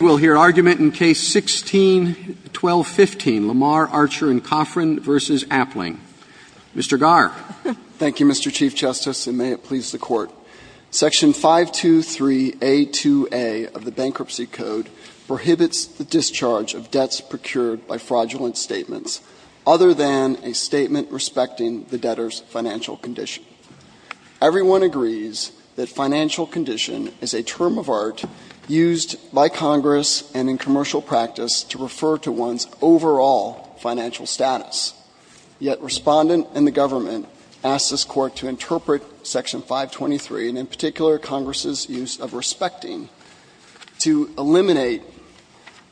We'll hear argument in Case 16-1215, Lamar, Archer & Cofrin v. Appling. Mr. Garr. Thank you, Mr. Chief Justice, and may it please the Court. Section 523A2A of the Bankruptcy Code prohibits the discharge of debts procured by fraudulent statements, other than a statement respecting the debtor's financial condition. Everyone agrees that financial condition is a term of art used by Congress and in commercial practice to refer to one's overall financial status. Yet Respondent and the Government ask this Court to interpret Section 523, and in particular Congress' use of respecting, to eliminate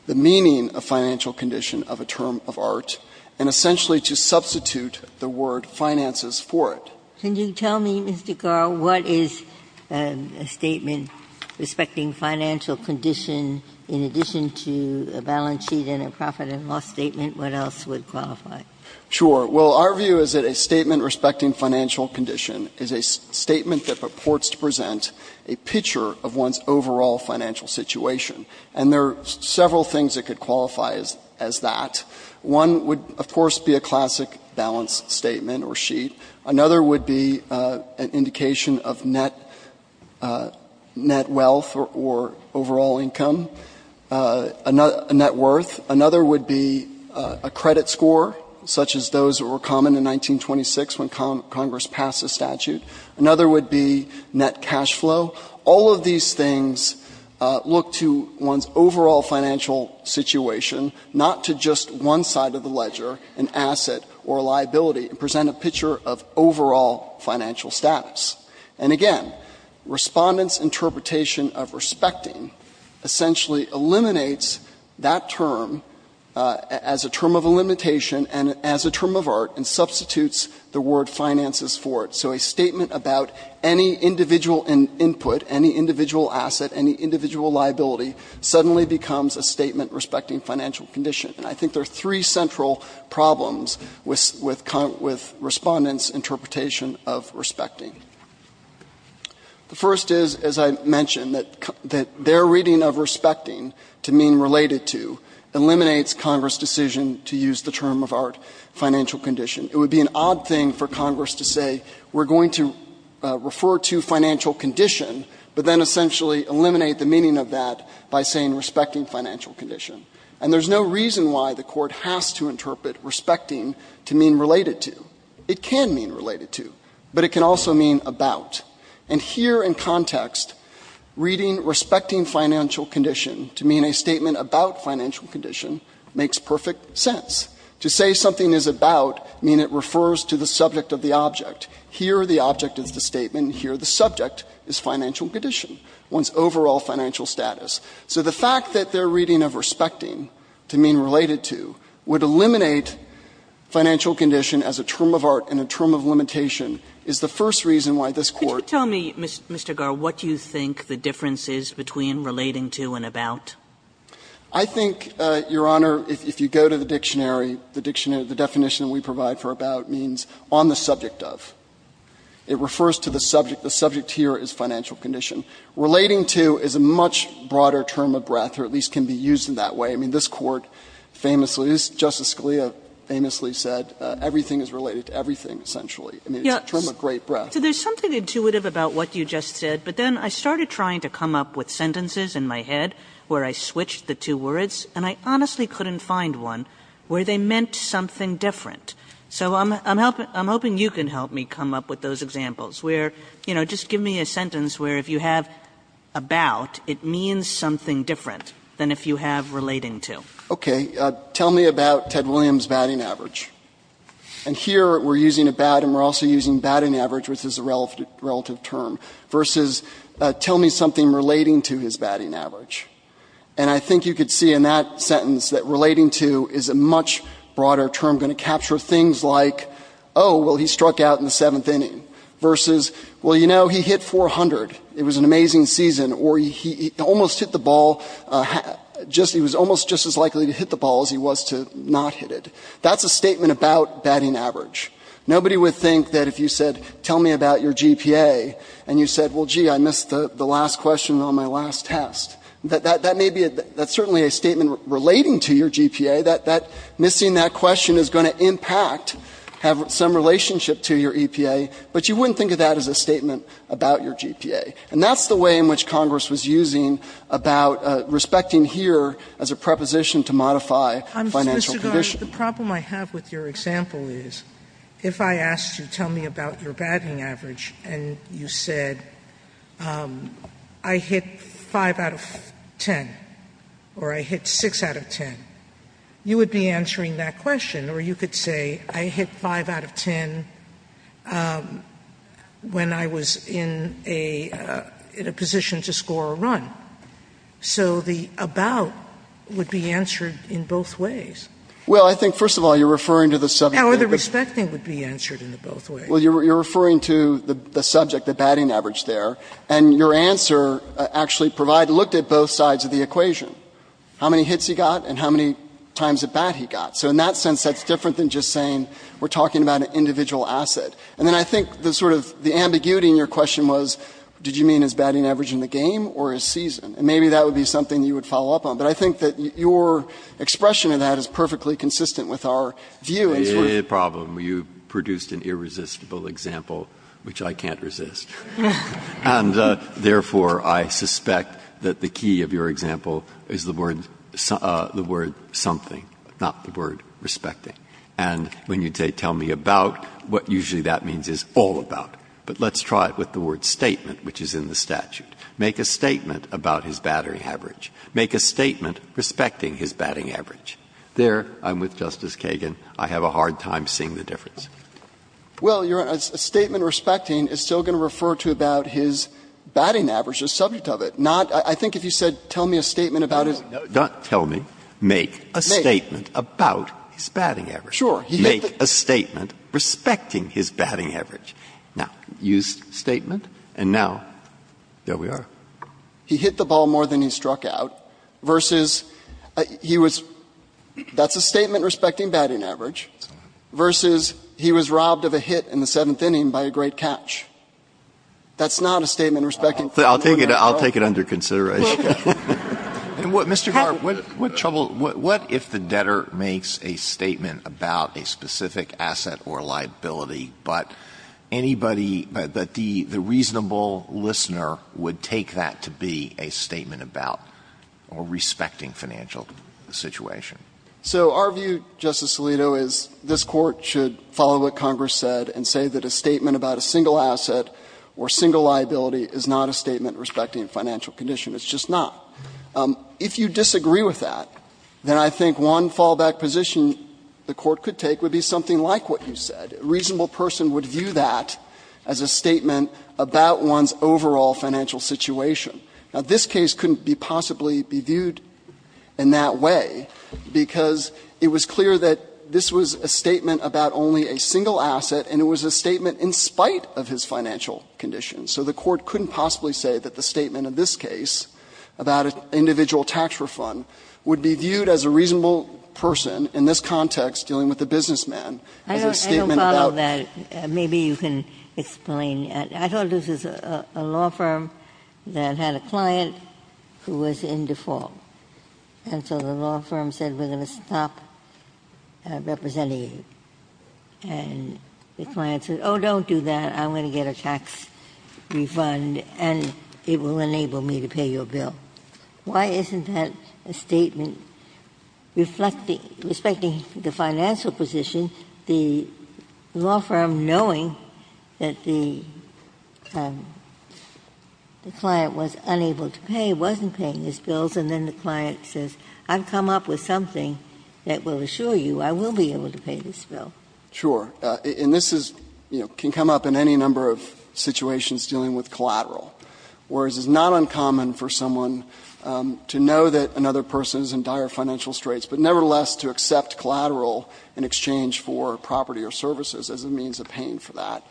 the meaning of financial condition of a term of art, and essentially to substitute the word finances for it. Can you tell me, Mr. Garr, what is a statement respecting financial condition in addition to a balance sheet and a profit and loss statement? What else would qualify? Sure. Well, our view is that a statement respecting financial condition is a statement that purports to present a picture of one's overall financial situation, and there are several things that could qualify as that. One would be a balance sheet. Another would be an indication of net wealth or overall income, net worth. Another would be a credit score, such as those that were common in 1926 when Congress passed the statute. Another would be net cash flow. All of these things look to one's overall financial situation, not to just one side of the ledger, an asset or a liability, and present a picture of overall financial status. And again, Respondent's interpretation of respecting essentially eliminates that term as a term of limitation and as a term of art and substitutes the word finances for it. So a statement about any individual input, any individual asset, any individual liability suddenly becomes a statement respecting financial condition. And I think there are three central problems with Respondent's interpretation of respecting. The first is, as I mentioned, that their reading of respecting to mean related to eliminates Congress' decision to use the term of art, financial condition. It would be an odd thing for Congress to say we're going to refer to financial condition, but then essentially eliminate the meaning of that by saying respecting financial condition. And there's no reason why the Court has to interpret respecting to mean related to. It can mean related to, but it can also mean about. And here in context, reading respecting financial condition to mean a statement about financial condition makes perfect sense. To say something is about mean it refers to the subject of the object. Here the object is the statement. Here the subject is financial condition, one's overall financial status. So the fact that their reading of respecting to mean related to would eliminate financial condition as a term of art and a term of limitation is the first reason why this Court can't do that. Kagan, what do you think the difference is between relating to and about? I think, Your Honor, if you go to the dictionary, the dictionary, the definition we provide for about means on the subject of. It refers to the subject. The subject here is financial condition. Relating to is a much broader term of breadth or at least can be used in that way. I mean, this Court famously, Justice Scalia famously said everything is related to everything essentially. I mean, it's a term of great breadth. So there's something intuitive about what you just said, but then I started trying to come up with sentences in my head where I switched the two words, and I honestly couldn't find one where they meant something different. So I'm hoping you can help me come up with those examples where, you know, just give me a sentence where if you have about, it means something different than if you have relating to. Okay. Tell me about Ted Williams' batting average. And here we're using about and we're also using batting average, which is a relative term, versus tell me something relating to his batting average. And I think you could see in that sentence that relating to is a much broader term, going to capture things like, oh, well, he struck out in the seventh inning versus, well, you know, he hit 400. It was an amazing season. Or he almost hit the ball, he was almost just as likely to hit the ball as he was to not hit it. That's a statement about batting average. Nobody would think that if you said, tell me about your GPA, and you said, well, gee, I missed the last question on my last test. That may be, that's certainly a statement relating to your GPA, that missing that question is going to impact, have some relationship to your EPA. But you wouldn't think of that as a statement about your GPA. And that's the way in which Congress was using about respecting here as a preposition to modify financial conditions. Sotomayor, the problem I have with your example is, if I asked you, tell me about your batting average, and you said, I hit 5 out of 10 or I hit 6 out of 10, you would be answering that question. Or you could say, I hit 5 out of 10 when I was in a position to score a run. So the about would be answered in both ways. Well, I think, first of all, you're referring to the subject. Or the respecting would be answered in both ways. Well, you're referring to the subject, the batting average there, and your answer actually provided, looked at both sides of the equation. How many hits he got and how many times a bat he got. So in that sense, that's different than just saying, we're talking about an individual asset. And then I think the sort of, the ambiguity in your question was, did you mean his batting average in the game or his season? And maybe that would be something you would follow up on. But I think that your expression of that is perfectly consistent with our view. It is a problem. You produced an irresistible example, which I can't resist. And therefore, I suspect that the key of your example is the word something, not the word respecting. And when you say tell me about, what usually that means is all about. But let's try it with the word statement, which is in the statute. Make a statement about his batting average. Make a statement respecting his batting average. There, I'm with Justice Kagan. I have a hard time seeing the difference. Well, Your Honor, a statement respecting is still going to refer to about his batting average, the subject of it. Not, I think if you said tell me a statement about his. No, no. Don't tell me. Make a statement about his batting average. Sure. Make a statement respecting his batting average. Now, use statement. And now, there we are. He hit the ball more than he struck out versus he was, that's a statement respecting his batting average versus he was robbed of a hit in the seventh inning by a great catch. That's not a statement respecting. I'll take it under consideration. Mr. Garre, what trouble, what if the debtor makes a statement about a specific asset or liability, but anybody, the reasonable listener would take that to be a statement about or respecting financial situation? So our view, Justice Alito, is this Court should follow what Congress said and say that a statement about a single asset or single liability is not a statement respecting financial condition. It's just not. If you disagree with that, then I think one fallback position the Court could take would be something like what you said. A reasonable person would view that as a statement about one's overall financial situation. Now, this case couldn't be possibly be viewed in that way, because it was clear that this was a statement about only a single asset, and it was a statement in spite of his financial conditions. So the Court couldn't possibly say that the statement in this case about an individual tax refund would be viewed as a reasonable person in this context dealing with a businessman as a statement about. I thought this was a law firm that had a client who was in default. And so the law firm said, we're going to stop representing you. And the client said, oh, don't do that. I'm going to get a tax refund, and it will enable me to pay your bill. Why isn't that a statement respecting the financial position? The law firm, knowing that the client was unable to pay, wasn't paying his bills, and then the client says, I've come up with something that will assure you I will be able to pay this bill. Sure. And this is, you know, can come up in any number of situations dealing with collateral. Whereas, it's not uncommon for someone to know that another person is in dire financial distress, but nevertheless to accept collateral in exchange for property or services as a means of paying for that.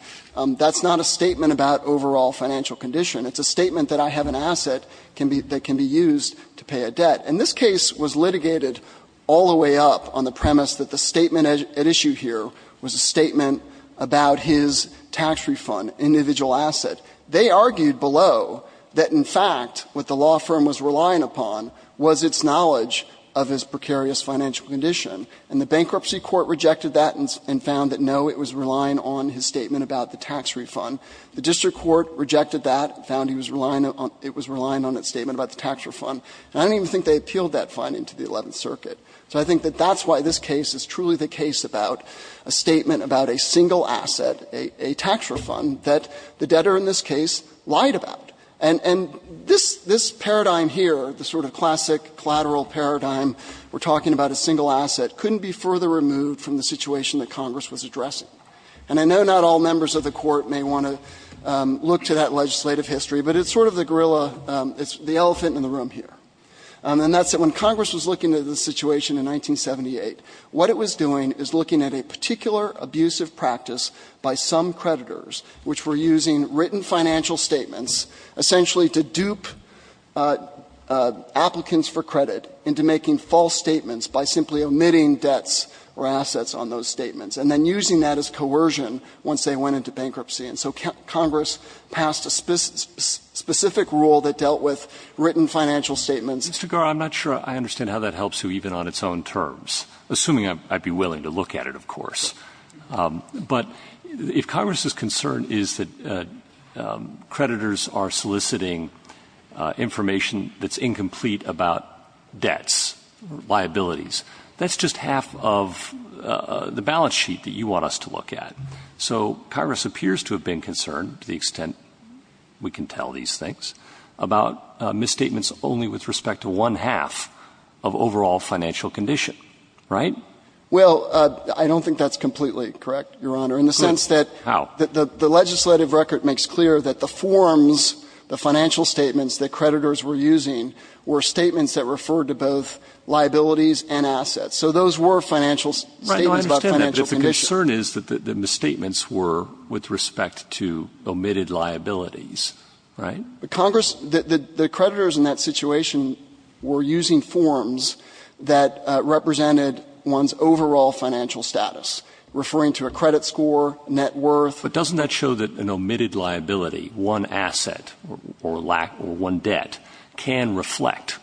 That's not a statement about overall financial condition. It's a statement that I have an asset that can be used to pay a debt. And this case was litigated all the way up on the premise that the statement at issue here was a statement about his tax refund, individual asset. They argued below that, in fact, what the law firm was relying upon was its knowledge of his precarious financial condition. And the bankruptcy court rejected that and found that, no, it was relying on his statement about the tax refund. The district court rejected that and found he was relying on the tax refund. And I don't even think they appealed that finding to the Eleventh Circuit. So I think that that's why this case is truly the case about a statement about a single asset, a tax refund, that the debtor in this case lied about. And this paradigm here, the sort of classic collateral paradigm, we're talking about a single asset, couldn't be further removed from the situation that Congress was addressing. And I know not all members of the Court may want to look to that legislative history, but it's sort of the gorilla, the elephant in the room here. And that's when Congress was looking at the situation in 1978, what it was doing is looking at a particular abusive practice by some creditors, which were using written financial statements essentially to dupe applicants for credit into making false statements by simply omitting debts or assets on those statements, and then using that as coercion once they went into bankruptcy. And so Congress passed a specific rule that dealt with written financial statements. Roberts. Mr. Garre, I'm not sure I understand how that helps you even on its own terms, assuming I'd be willing to look at it, of course. But if Congress's concern is that creditors are soliciting information that's incomplete about debts or liabilities, that's just half of the balance sheet that you want us to look at. So Congress appears to have been concerned, to the extent we can tell these things, about misstatements only with respect to one-half of overall financial condition, right? Well, I don't think that's completely correct, Your Honor, in the sense that the legislative record makes clear that the forms, the financial statements that creditors were using were statements that referred to both liabilities and assets. Right. No, I understand that. But if the concern is that the misstatements were with respect to omitted liabilities, right? Congress, the creditors in that situation were using forms that represented one's overall financial status, referring to a credit score, net worth. But doesn't that show that an omitted liability, one asset or one debt, can reflect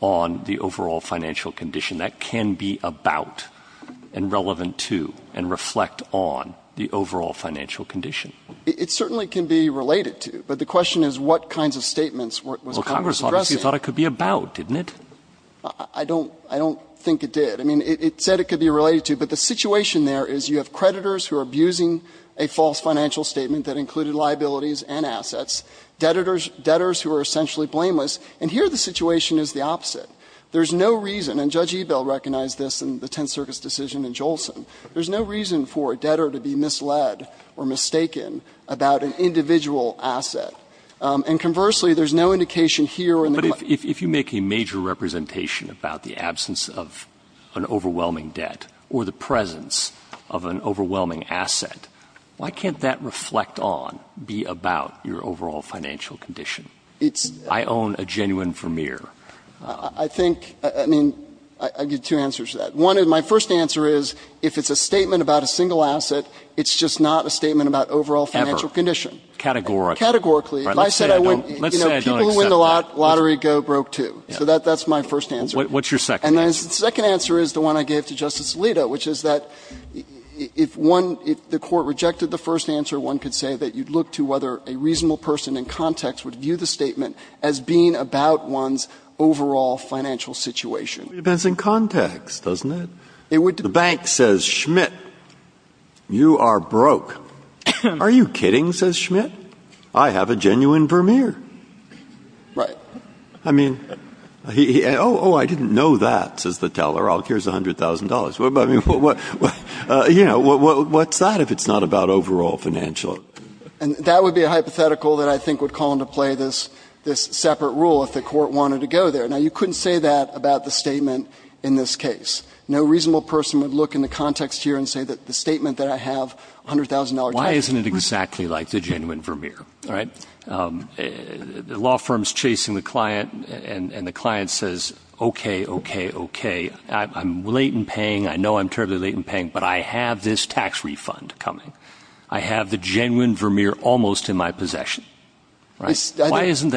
on the overall financial condition? That can be about and relevant to and reflect on the overall financial condition. It certainly can be related to. But the question is what kinds of statements was Congress addressing? Well, Congress obviously thought it could be about, didn't it? I don't think it did. I mean, it said it could be related to. But the situation there is you have creditors who are abusing a false financial statement that included liabilities and assets, debtors who are essentially blameless, and here the situation is the opposite. There is no reason, and Judge Ebell recognized this in the Tenth Circus decision in Jolson. There is no reason for a debtor to be misled or mistaken about an individual asset. And conversely, there is no indication here or in the claim. But if you make a major representation about the absence of an overwhelming debt or the presence of an overwhelming asset, why can't that reflect on, be about your overall financial condition? I own a genuine Vermeer. I think, I mean, I give two answers to that. One, and my first answer is if it's a statement about a single asset, it's just not a statement about overall financial condition. Ever. Categorically. Categorically. Let's say I don't accept that. People who win the lottery go broke, too. So that's my first answer. What's your second answer? The second answer is the one I gave to Justice Alito, which is that if one, if the Court rejected the first answer, one could say that you'd look to whether a reasonable person in context would view the statement as being about one's overall financial situation. It depends on context, doesn't it? The bank says, Schmidt, you are broke. Are you kidding, says Schmidt? I have a genuine Vermeer. Right. I mean, oh, oh, I didn't know that, says the teller. Here's $100,000. You know, what's that if it's not about overall financial? And that would be a hypothetical that I think would call into play this separate rule if the Court wanted to go there. Now, you couldn't say that about the statement in this case. No reasonable person would look in the context here and say that the statement that I have, $100,000 tax refund. Why isn't it exactly like the genuine Vermeer, right? The law firm is chasing the client, and the client says, okay, okay, okay. I'm late in paying. I know I'm terribly late in paying, but I have this tax refund coming. I have the genuine Vermeer almost in my possession, right? Why isn't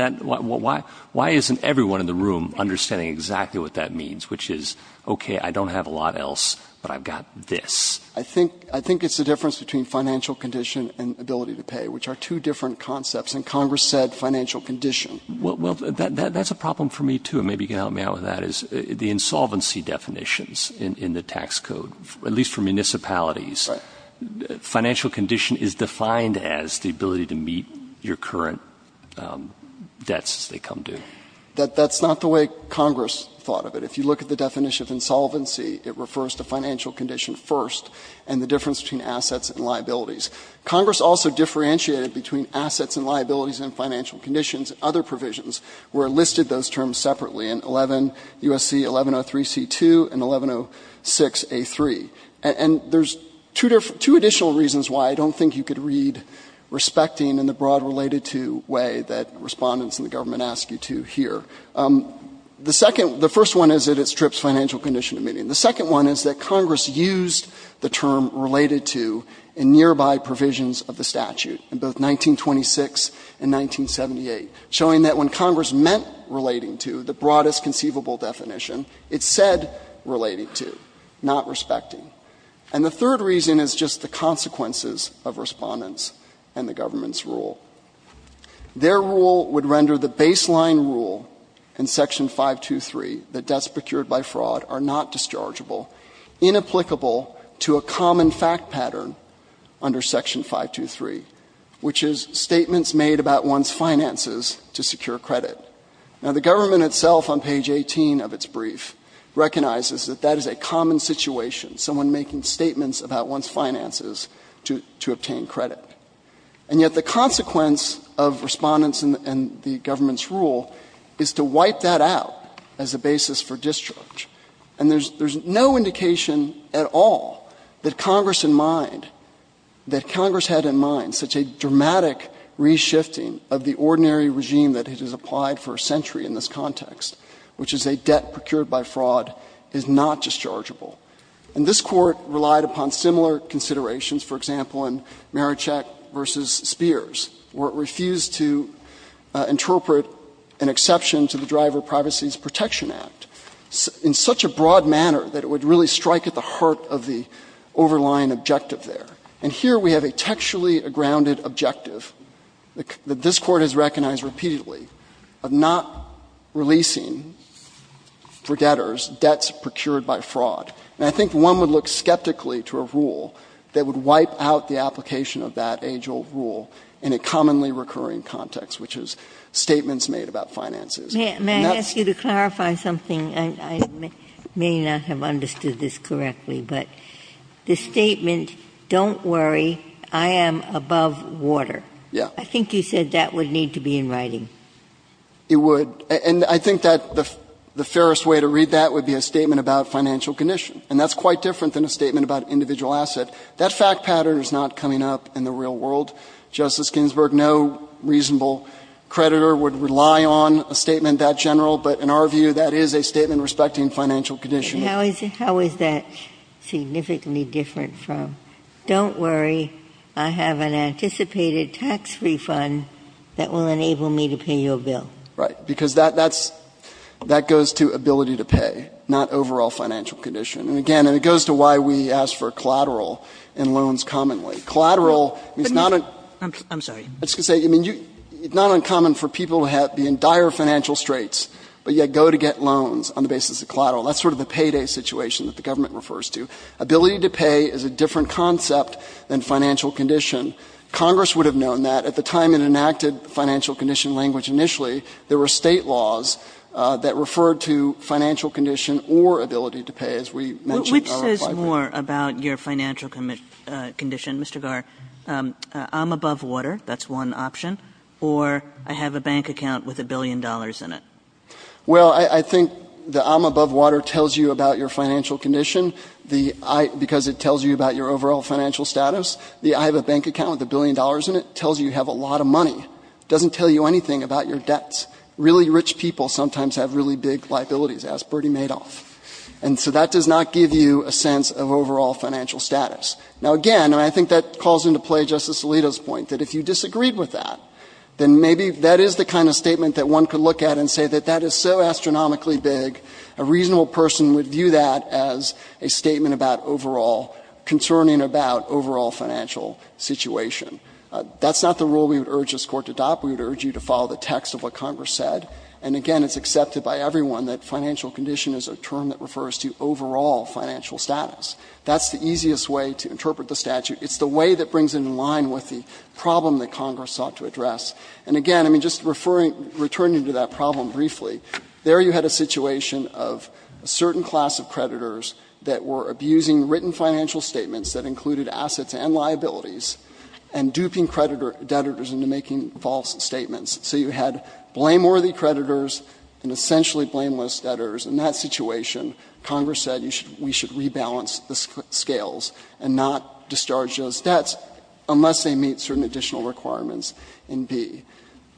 everyone in the room understanding exactly what that means, which is, okay, I don't have a lot else, but I've got this? I think it's the difference between financial condition and ability to pay, which are two different concepts. And Congress said financial condition. Well, that's a problem for me, too. Maybe you can help me out with that, is the insolvency definitions in the tax code, at least for municipalities. Financial condition is defined as the ability to meet your current financial debts as they come due. That's not the way Congress thought of it. If you look at the definition of insolvency, it refers to financial condition first and the difference between assets and liabilities. Congress also differentiated between assets and liabilities and financial conditions. Other provisions were listed those terms separately in 11 U.S.C. 1103C2 and 1106A3. And there's two additional reasons why I don't think you could read respecting in the broad related to way that Respondents and the government ask you to here. The second, the first one is that it strips financial condition of meaning. The second one is that Congress used the term related to in nearby provisions of the statute in both 1926 and 1978, showing that when Congress meant relating to, the broadest conceivable definition, it said related to, not respecting. And the third reason is just the consequences of Respondents and the government's rule. Their rule would render the baseline rule in Section 523 that debts procured by fraud are not dischargeable, inapplicable to a common fact pattern under Section 523, which is statements made about one's finances to secure credit. Now, the government itself on page 18 of its brief recognizes that that is a common situation, someone making statements about one's finances to obtain credit. And yet the consequence of Respondents and the government's rule is to wipe that out as a basis for discharge. And there's no indication at all that Congress in mind, that Congress had in mind such a dramatic reshifting of the ordinary regime that it has applied for a century in this context, which is a debt procured by fraud is not dischargeable. And this Court relied upon similar considerations, for example, in Marachek v. Spears, where it refused to interpret an exception to the Driver Privacy Protection Act in such a broad manner that it would really strike at the heart of the overlying objective there. And here we have a textually grounded objective that this Court has recognized repeatedly of not releasing for debtors debts procured by fraud. And I think one would look skeptically to a rule that would wipe out the application of that age-old rule in a commonly recurring context, which is statements made about And that's the case. Ginsburg. May I ask you to clarify something? I may not have understood this correctly, but the statement, don't worry, I am above water. Yeah. I think you said that would need to be in writing. It would. And I think that the fairest way to read that would be a statement about financial condition. And that's quite different than a statement about individual asset. That fact pattern is not coming up in the real world. Justice Ginsburg, no reasonable creditor would rely on a statement that general. But in our view, that is a statement respecting financial condition. How is that significantly different from, don't worry, I have an anticipated tax refund that will enable me to pay your bill? Right. Because that goes to ability to pay, not overall financial condition. And again, it goes to why we ask for collateral and loans commonly. Collateral is not uncommon for people to be in dire financial straits, but yet go to get loans on the basis of collateral. That's sort of the payday situation that the government refers to. Ability to pay is a different concept than financial condition. Congress would have known that. At the time it enacted financial condition language initially, there were State laws that referred to financial condition or ability to pay, as we mentioned earlier. Kagan. Which says more about your financial condition, Mr. Garr? I'm above water. That's one option. Or I have a bank account with a billion dollars in it. Well, I think the I'm above water tells you about your financial condition. The I, because it tells you about your overall financial status. The I have a bank account with a billion dollars in it tells you you have a lot of money. It doesn't tell you anything about your debts. Really rich people sometimes have really big liabilities, as Bertie Madoff. And so that does not give you a sense of overall financial status. Now, again, I think that calls into play Justice Alito's point, that if you disagreed with that, then maybe that is the kind of statement that one could look at and say that that is so astronomically big, a reasonable person would view that as a statement concerning about overall financial situation. That's not the rule we would urge this Court to adopt. We would urge you to follow the text of what Congress said. And, again, it's accepted by everyone that financial condition is a term that refers to overall financial status. That's the easiest way to interpret the statute. It's the way that brings it in line with the problem that Congress sought to address. And, again, I mean, just referring, returning to that problem briefly, there you had a situation of a certain class of creditors that were abusing written financial statements that included assets and liabilities and duping creditors into making false statements. So you had blameworthy creditors and essentially blameless debtors. In that situation, Congress said we should rebalance the scales and not discharge those debts unless they meet certain additional requirements in B.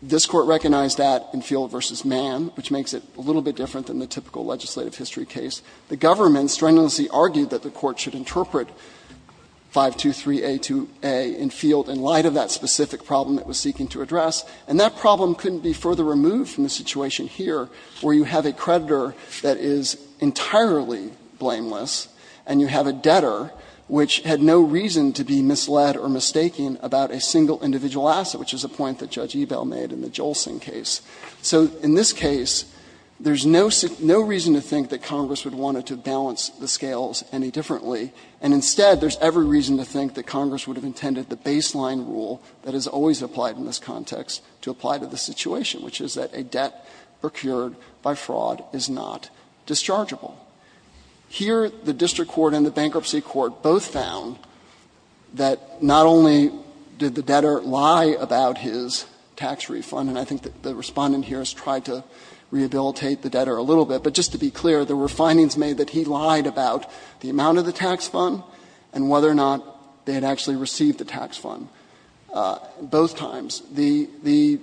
This Court recognized that in Field v. Mann, which makes it a little bit different than the typical legislative history case. The government strenuously argued that the Court should interpret 523A2A in Field in light of that specific problem it was seeking to address. And that problem couldn't be further removed from the situation here where you have a creditor that is entirely blameless and you have a debtor which had no reason to be misled or mistaking about a single individual asset, which is a point that Judge Ebell made in the Jolsing case. So in this case, there is no reason to think that Congress would want to balance the scales any differently, and instead there is every reason to think that Congress would have intended the baseline rule that is always applied in this context to apply to the situation, which is that a debt procured by fraud is not dischargeable. Here, the district court and the bankruptcy court both found that not only did the debtor lie about his tax refund, and I think the Respondent here has tried to rehabilitate the debtor a little bit, but just to be clear, there were findings made that he lied about the amount of the tax fund and whether or not they had actually received the tax fund, both times. The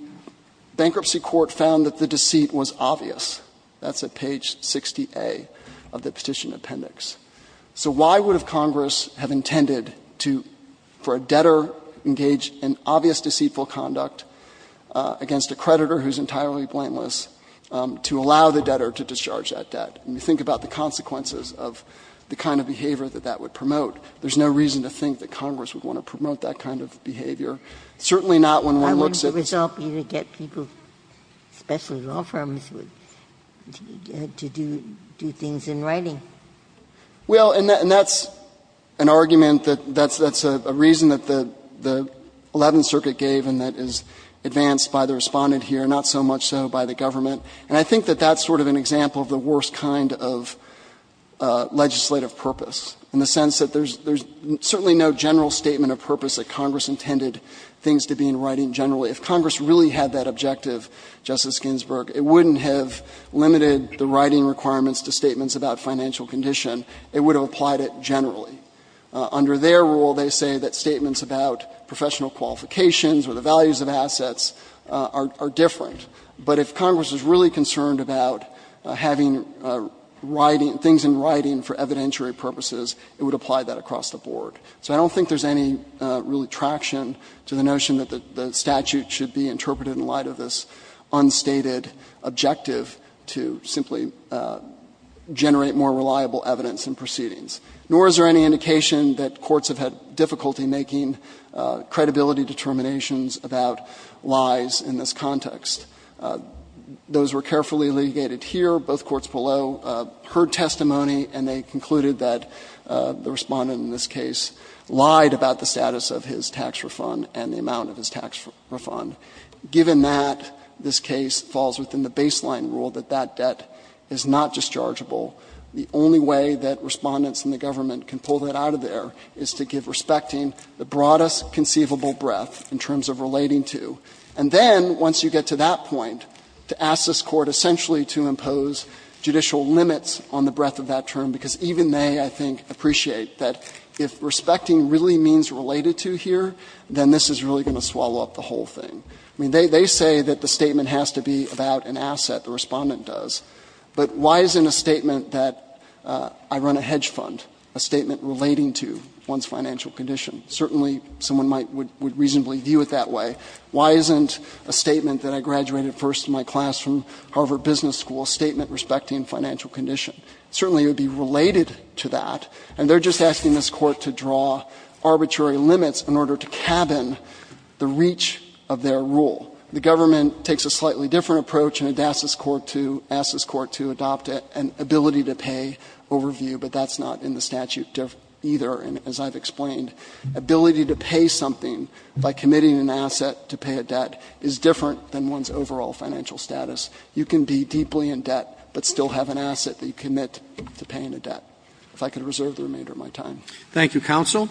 bankruptcy court found that the deceit was obvious. That's at page 60A of the Petition Appendix. So why would Congress have intended to, for a debtor, engage in obvious deceitful conduct against a creditor who is entirely blameless to allow the debtor to discharge that debt? And you think about the consequences of the kind of behavior that that would promote. There is no reason to think that Congress would want to promote that kind of behavior, certainly not when one looks at the other. Ginsburg. Well, and that's an argument that's a reason that the Eleventh Circuit gave and that is advanced by the Respondent here, not so much so by the government. And I think that that's sort of an example of the worst kind of legislative purpose, in the sense that there's certainly no general statement of purpose that Congress intended things to be in writing generally. If Congress really had that objective, Justice Ginsburg, it wouldn't have limited the writing requirements to statements about financial condition. It would have applied it generally. Under their rule, they say that statements about professional qualifications or the values of assets are different. But if Congress was really concerned about having writing, things in writing for evidentiary purposes, it would apply that across the board. So I don't think there's any really traction to the notion that the statute should be interpreted in light of this unstated objective to simply generate more reliable evidence in proceedings. Nor is there any indication that courts have had difficulty making credibility determinations about lies in this context. Those were carefully litigated here. Both courts below heard testimony and they concluded that the Respondent in this case lied about the status of his tax refund and the amount of his tax refund. Given that, this case falls within the baseline rule that that debt is not dischargeable. The only way that Respondents in the government can pull that out of there is to give respecting the broadest conceivable breadth in terms of relating to. And then, once you get to that point, to ask this Court essentially to impose judicial limits on the breadth of that term, because even they, I think, appreciate that if respecting really means related to here, then this is really going to swallow up the whole thing. I mean, they say that the statement has to be about an asset. The Respondent does. But why isn't a statement that I run a hedge fund a statement relating to one's financial condition? Certainly, someone would reasonably view it that way. Why isn't a statement that I graduated first in my class from Harvard Business School a statement respecting financial condition? Certainly, it would be related to that. And they're just asking this Court to draw arbitrary limits in order to cabin the reach of their rule. The government takes a slightly different approach and asks this Court to adopt an ability-to-pay overview, but that's not in the statute either, as I've explained. Ability to pay something by committing an asset to pay a debt is different than one's overall financial status. You can be deeply in debt but still have an asset that you commit to paying a debt. If I could reserve the remainder of my time. Roberts. Thank you, counsel.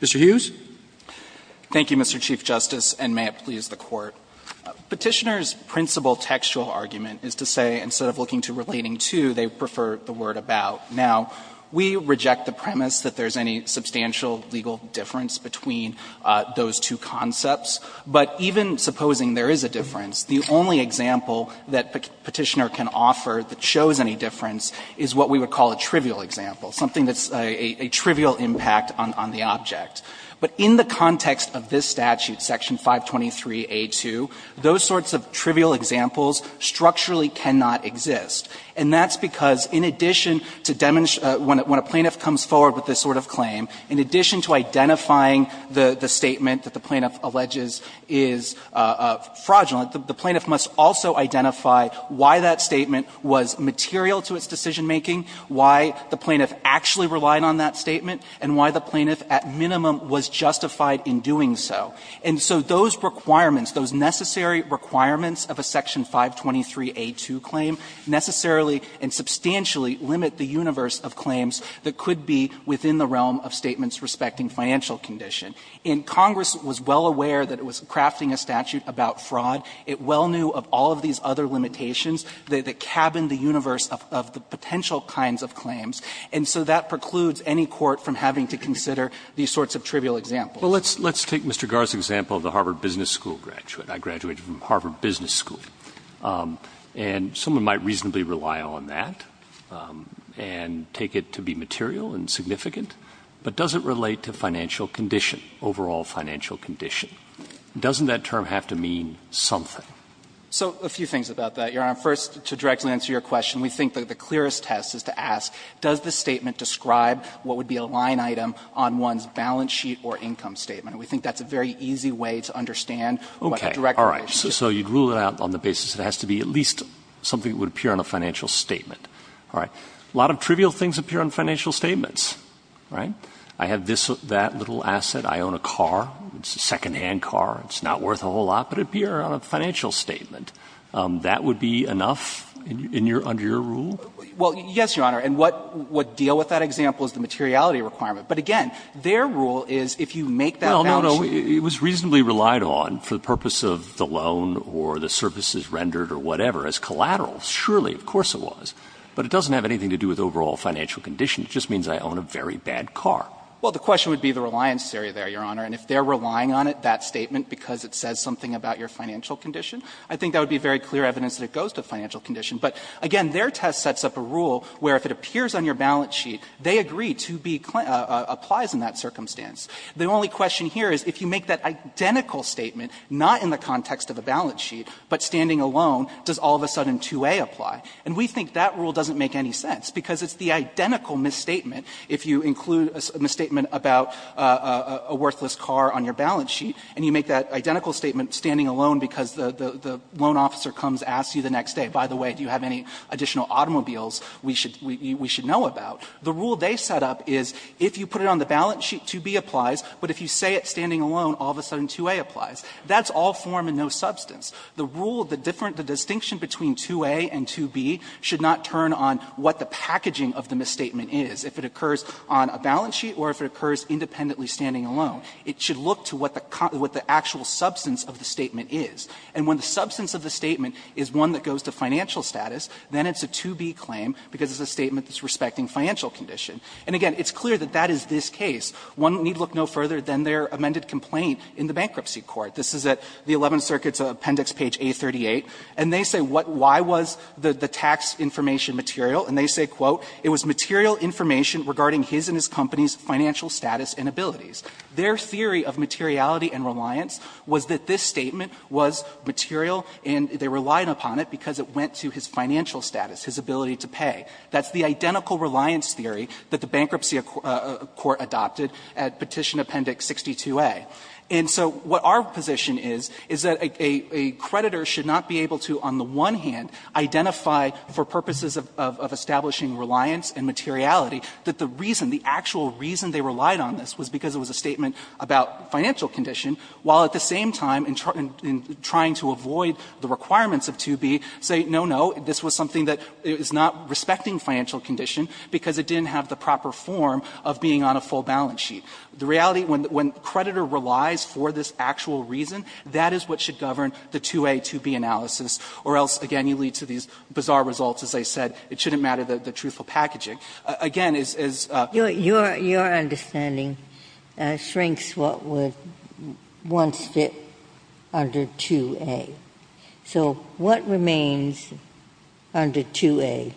Mr. Hughes. Thank you, Mr. Chief Justice, and may it please the Court. Petitioner's principal textual argument is to say instead of looking to relating to, they prefer the word about. Now, we reject the premise that there's any substantial legal difference between those two concepts, but even supposing there is a difference, the only example that Petitioner can offer that shows any difference is what we would call a trivial example, something that's a trivial impact on the object. But in the context of this statute, Section 523a2, those sorts of trivial examples structurally cannot exist. And that's because in addition to demonstrate when a plaintiff comes forward with this sort of claim, in addition to identifying the statement that the plaintiff alleges is fraudulent, the plaintiff must also identify why that statement was material to its decision-making, why the plaintiff actually relied on that statement, and why the plaintiff at minimum was justified in doing so. And so those requirements, those necessary requirements of a Section 523a2 claim necessarily and substantially limit the universe of claims that could be within the realm of statements respecting financial condition. And Congress was well aware that it was crafting a statute about fraud. It well knew of all of these other limitations that cabined the universe of the potential kinds of claims. And so that precludes any court from having to consider these sorts of trivial examples. Roberts, let's take Mr. Garre's example of the Harvard Business School graduate. I graduated from Harvard Business School. And someone might reasonably rely on that and take it to be material and significant, but does it relate to financial condition, overall financial condition? Doesn't that term have to mean something? Garre, first to directly answer your question, we think that the clearest test is to ask, does the statement describe what would be a line item on one's balance sheet or income statement? And we think that's a very easy way to understand what the direct relation is. All right. So you'd rule it out on the basis it has to be at least something that would appear on a financial statement. All right. A lot of trivial things appear on financial statements. All right. I have this or that little asset. I own a car. It's a secondhand car. It's not worth a whole lot, but it would appear on a financial statement. That would be enough under your rule? Well, yes, Your Honor. And what deal with that example is the materiality requirement. But again, their rule is if you make that balance sheet. Well, it was reasonably relied on for the purpose of the loan or the services rendered or whatever as collateral. Surely, of course it was. But it doesn't have anything to do with overall financial condition. It just means I own a very bad car. Well, the question would be the reliance area there, Your Honor. And if they're relying on it, that statement, because it says something about your financial condition, I think that would be very clear evidence that it goes to financial condition. But again, their test sets up a rule where if it appears on your balance sheet, they agree to be clin ‑‑ applies in that circumstance. The only question here is if you make that identical statement, not in the context of a balance sheet, but standing alone, does all of a sudden 2A apply? And we think that rule doesn't make any sense, because it's the identical misstatement if you include a misstatement about a worthless car on your balance sheet and you make that identical statement standing alone because the loan officer comes, asks you the next day, by the way, do you have any additional automobiles we should know about? The rule they set up is if you put it on the balance sheet, 2B applies, but if you say it standing alone, all of a sudden 2A applies. That's all form and no substance. The rule, the different ‑‑ the distinction between 2A and 2B should not turn on what the packaging of the misstatement is, if it occurs on a balance sheet or if it occurs independently standing alone. It should look to what the actual substance of the statement is. And when the substance of the statement is one that goes to financial status, then it's a 2B claim because it's a statement that's respecting financial condition. And again, it's clear that that is this case. One need look no further than their amended complaint in the bankruptcy court. This is at the Eleventh Circuit's appendix page A38. And they say what ‑‑ why was the tax information material? And they say, quote, it was material information regarding his and his company's financial status and abilities. Their theory of materiality and reliance was that this statement was material and they relied upon it because it went to his financial status, his ability to pay. That's the identical reliance theory that the bankruptcy court adopted at Petition Appendix 62A. And so what our position is, is that a creditor should not be able to, on the one hand, identify for purposes of establishing reliance and materiality, that the reason, the actual reason they relied on this was because it was a statement about financial condition, while at the same time, in trying to avoid the requirements of 2B, say, no, no, this was something that is not respecting financial condition because it didn't have the proper form of being on a full balance sheet. The reality, when creditor relies for this actual reason, that is what should govern the 2A, 2B analysis, or else, again, you lead to these bizarre results, as I said, it shouldn't matter the truthful packaging. Again, it's a question of whether or not it's true, whether or not it's true. Ginsburg Your understanding shrinks what would once fit under 2A. So what remains under 2A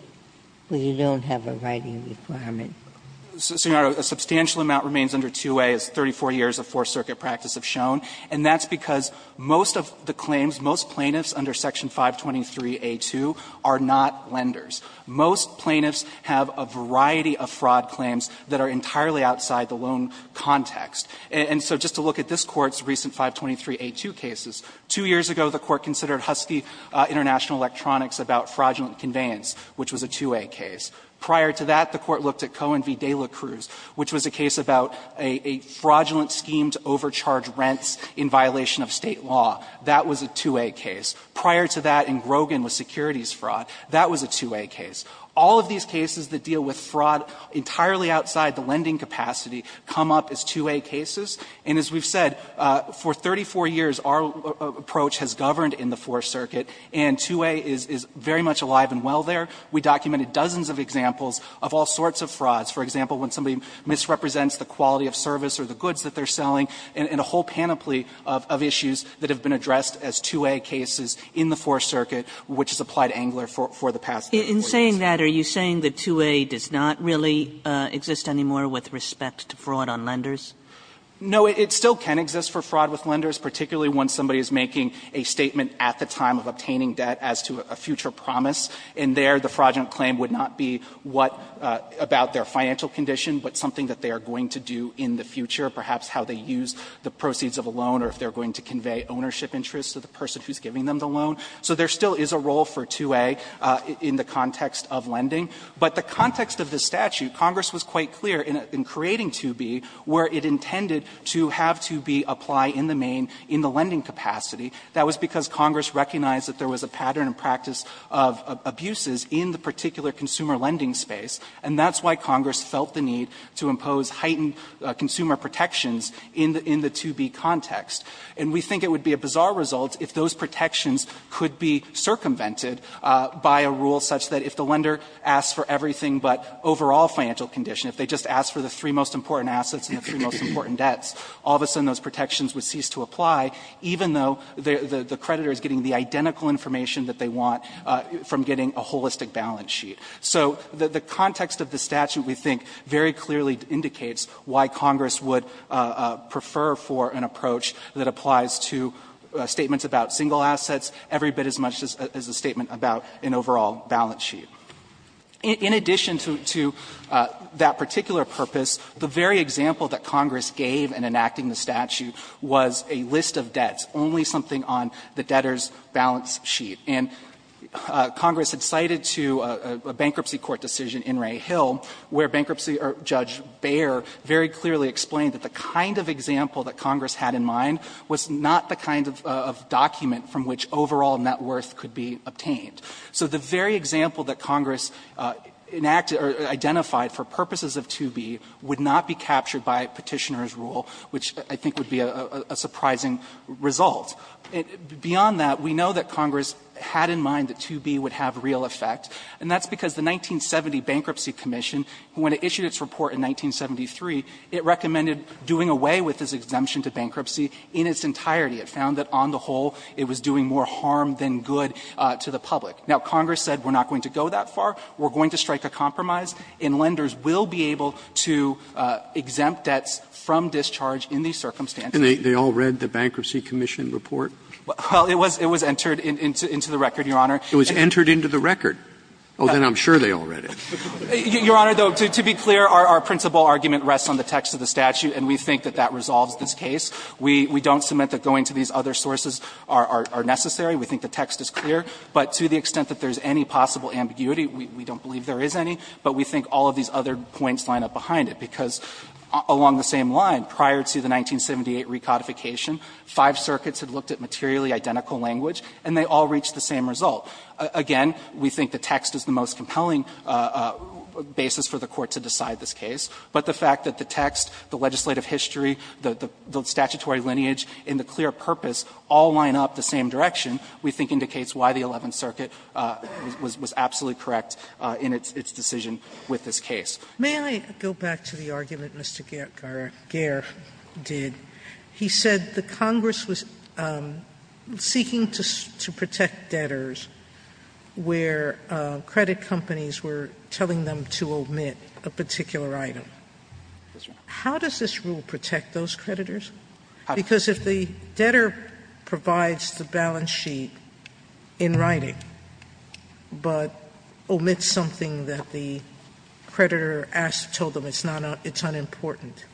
where you don't have a writing requirement? Fisher Senator, a substantial amount remains under 2A, as 34 years of Fourth Circuit practice have shown, and that's because most of the claims, most plaintiffs under Section 523a2 are not lenders. Most plaintiffs have a variety of fraud claims that are entirely outside the loan context. And so just to look at this Court's recent 523a2 cases, two years ago the Court considered Husky International Electronics about fraudulent conveyance, which was a 2A case. Prior to that, the Court looked at Cohen v. De La Cruz, which was a case about a fraudulent scheme to overcharge rents in violation of State law. That was a 2A case. All of these cases that deal with fraud entirely outside the lending capacity come up as 2A cases. And as we've said, for 34 years our approach has governed in the Fourth Circuit, and 2A is very much alive and well there. We documented dozens of examples of all sorts of frauds. For example, when somebody misrepresents the quality of service or the goods that they're selling, and a whole panoply of issues that have been addressed as 2A cases In saying that, are you saying that 2A does not really exist anymore with respect to fraud on lenders? No, it still can exist for fraud with lenders, particularly when somebody is making a statement at the time of obtaining debt as to a future promise, and there the fraudulent claim would not be what about their financial condition, but something that they are going to do in the future, perhaps how they use the proceeds of a loan or if they are going to convey ownership interests to the person who is giving them the loan. So there still is a role for 2A in the context of lending. But the context of the statute, Congress was quite clear in creating 2B where it intended to have 2B apply in the main, in the lending capacity. That was because Congress recognized that there was a pattern and practice of abuses in the particular consumer lending space, and that's why Congress felt the need to impose heightened consumer protections in the 2B context. And we think it would be a bizarre result if those protections could be circumvented by a rule such that if the lender asks for everything but overall financial condition, if they just ask for the three most important assets and the three most important debts, all of a sudden those protections would cease to apply, even though the creditor is getting the identical information that they want from getting a holistic balance sheet. So the context of the statute, we think, very clearly indicates why Congress would prefer for an approach that applies to statements about single assets every bit as much as a statement about an overall balance sheet. In addition to that particular purpose, the very example that Congress gave in enacting the statute was a list of debts, only something on the debtor's balance sheet. And Congress had cited to a bankruptcy court decision in Ray Hill where bankruptcy judge Baer very clearly explained that the kind of example that Congress had in mind was not the kind of document from which overall net worth could be obtained. So the very example that Congress enacted or identified for purposes of 2B would not be captured by Petitioner's rule, which I think would be a surprising result. Beyond that, we know that Congress had in mind that 2B would have real effect, and that's because the 1970 Bankruptcy Commission, when it issued its report in 1973, it recommended doing away with this exemption to bankruptcy in its entirety. It found that on the whole it was doing more harm than good to the public. Now, Congress said we're not going to go that far, we're going to strike a compromise, and lenders will be able to exempt debts from discharge in these circumstances. Roberts. And they all read the Bankruptcy Commission report? Well, it was entered into the record, Your Honor. It was entered into the record? Oh, then I'm sure they all read it. Your Honor, though, to be clear, our principal argument rests on the text of the statute, and we think that that resolves this case. We don't submit that going to these other sources are necessary. We think the text is clear. But to the extent that there's any possible ambiguity, we don't believe there is any, but we think all of these other points line up behind it, because along the same line, prior to the 1978 recodification, five circuits had looked at materially identical language, and they all reached the same result. Again, we think the text is the most compelling basis for the Court to decide this case, but the fact that the text, the legislative history, the statutory lineage in the clear purpose all line up the same direction, we think indicates why the Eleventh Circuit was absolutely correct in its decision with this case. Sotomayor, may I go back to the argument Mr. Garre did? He said the Congress was seeking to protect debtors where credit companies were telling them to omit a particular item. How does this rule protect those creditors? Because if the debtor provides the balance sheet in writing, but omits something that the creditor asked, told them it's unimportant,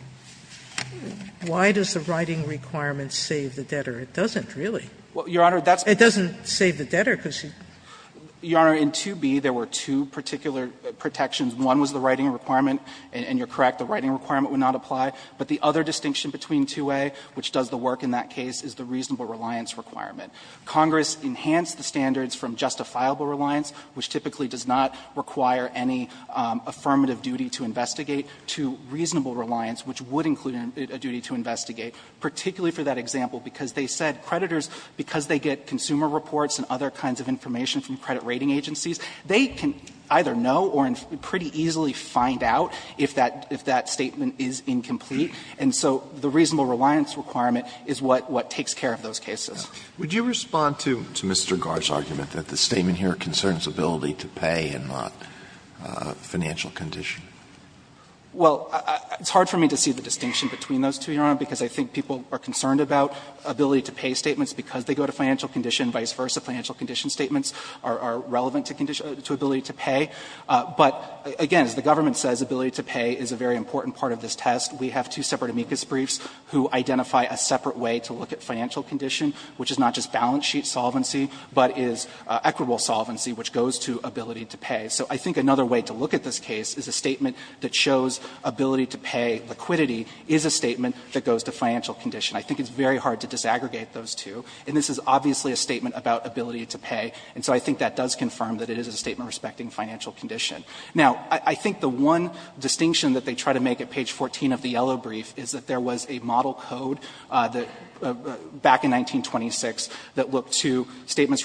why does the debtor have to omit it? Why does the writing requirement save the debtor? It doesn't, really. It doesn't save the debtor, because he's going to have to omit it. Garre, in 2b, there were two particular protections. One was the writing requirement, and you're correct, the writing requirement would not apply. But the other distinction between 2a, which does the work in that case, is the reasonable reliance requirement. Congress enhanced the standards from justifiable reliance, which typically does not require any affirmative duty to investigate, to reasonable reliance, which would include a duty to investigate, particularly for that example, because they said creditors, because they get consumer reports and other kinds of information from credit rating agencies, they can either know or pretty easily find out if that statement is incomplete. And so the reasonable reliance requirement is what takes care of those cases. Alito, would you respond to Mr. Garre's argument that the statement here concerns ability to pay and not financial condition? Well, it's hard for me to see the distinction between those two, Your Honor, because I think people are concerned about ability to pay statements because they go to financial condition, and vice versa, financial condition statements are relevant to ability to pay. But, again, as the government says, ability to pay is a very important part of this test. We have two separate amicus briefs who identify a separate way to look at financial condition, which is not just balance sheet solvency, but is equitable solvency, which goes to ability to pay. So I think another way to look at this case is a statement that shows ability to pay liquidity is a statement that goes to financial condition. I think it's very hard to disaggregate those two. And this is obviously a statement about ability to pay. And so I think that does confirm that it is a statement respecting financial condition. Now, I think the one distinction that they try to make at page 14 of the yellow brief is that there was a model code that, back in 1926, that looked to statements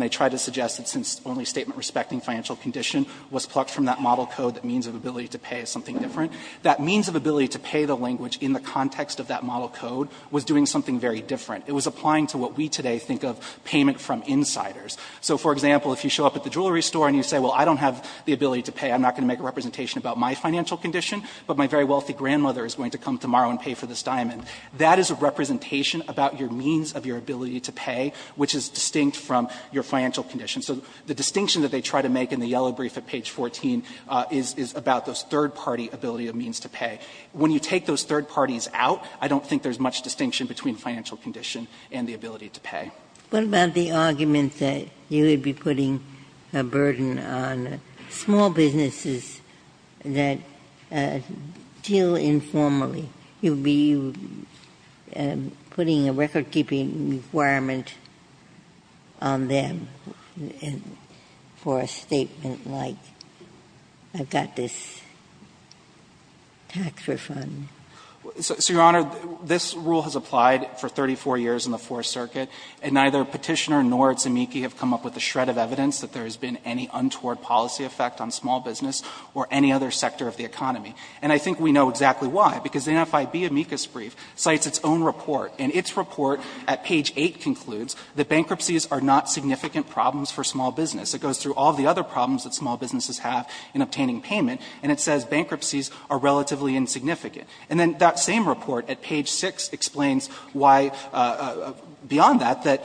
and tried to suggest that since only statement respecting financial condition was plucked from that model code that means of ability to pay is something different, that means of ability to pay the language in the context of that model code was doing something very different. It was applying to what we today think of payment from insiders. So, for example, if you show up at the jewelry store and you say, well, I don't have the ability to pay, I'm not going to make a representation about my financial condition, but my very wealthy grandmother is going to come tomorrow and pay for this diamond, that is a representation about your means of your ability to pay, which is distinct from your financial condition. So the distinction that they try to make in the yellow brief at page 14 is about those third-party ability of means to pay. When you take those third parties out, I don't think there is much distinction between financial condition and the ability to pay. Ginsburg. What about the argument that you would be putting a burden on small businesses that deal informally? You would be putting a recordkeeping requirement on them for a statement like I've got this tax refund. So, Your Honor, this rule has applied for 34 years in the Fourth Circuit, and neither Petitioner nor Itsamiki have come up with a shred of evidence that there has been any untoward policy effect on small business or any other sector of the economy. And I think we know exactly why, because the NFIB amicus brief cites its own report, and its report at page 8 concludes that bankruptcies are not significant problems for small business. It goes through all the other problems that small businesses have in obtaining payment, and it says bankruptcies are relatively insignificant. And then that same report at page 6 explains why, beyond that, that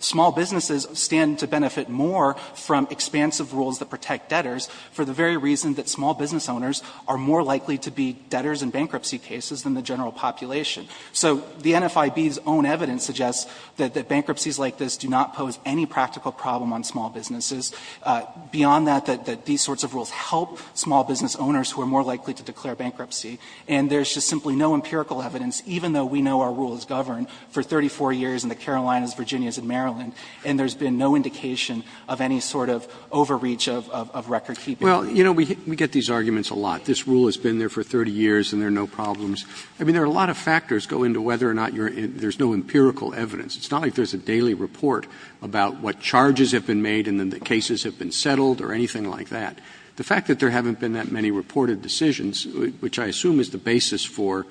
small businesses stand to benefit more from expansive rules that protect debtors for the very reason that small business owners are more likely to be debtors in bankruptcy cases than the general population. So the NFIB's own evidence suggests that bankruptcies like this do not pose any practical problem on small businesses. Beyond that, that these sorts of rules help small business owners who are more likely to declare bankruptcy. And there's just simply no empirical evidence, even though we know our rules govern for 34 years in the Carolinas, Virginias, and Maryland, and there's been no indication of any sort of overreach of recordkeeping. Well, you know, we get these arguments a lot. This rule has been there for 30 years and there are no problems. I mean, there are a lot of factors go into whether or not there's no empirical evidence. It's not like there's a daily report about what charges have been made and then the cases have been settled or anything like that. The fact that there haven't been that many reported decisions, which I assume is the basis for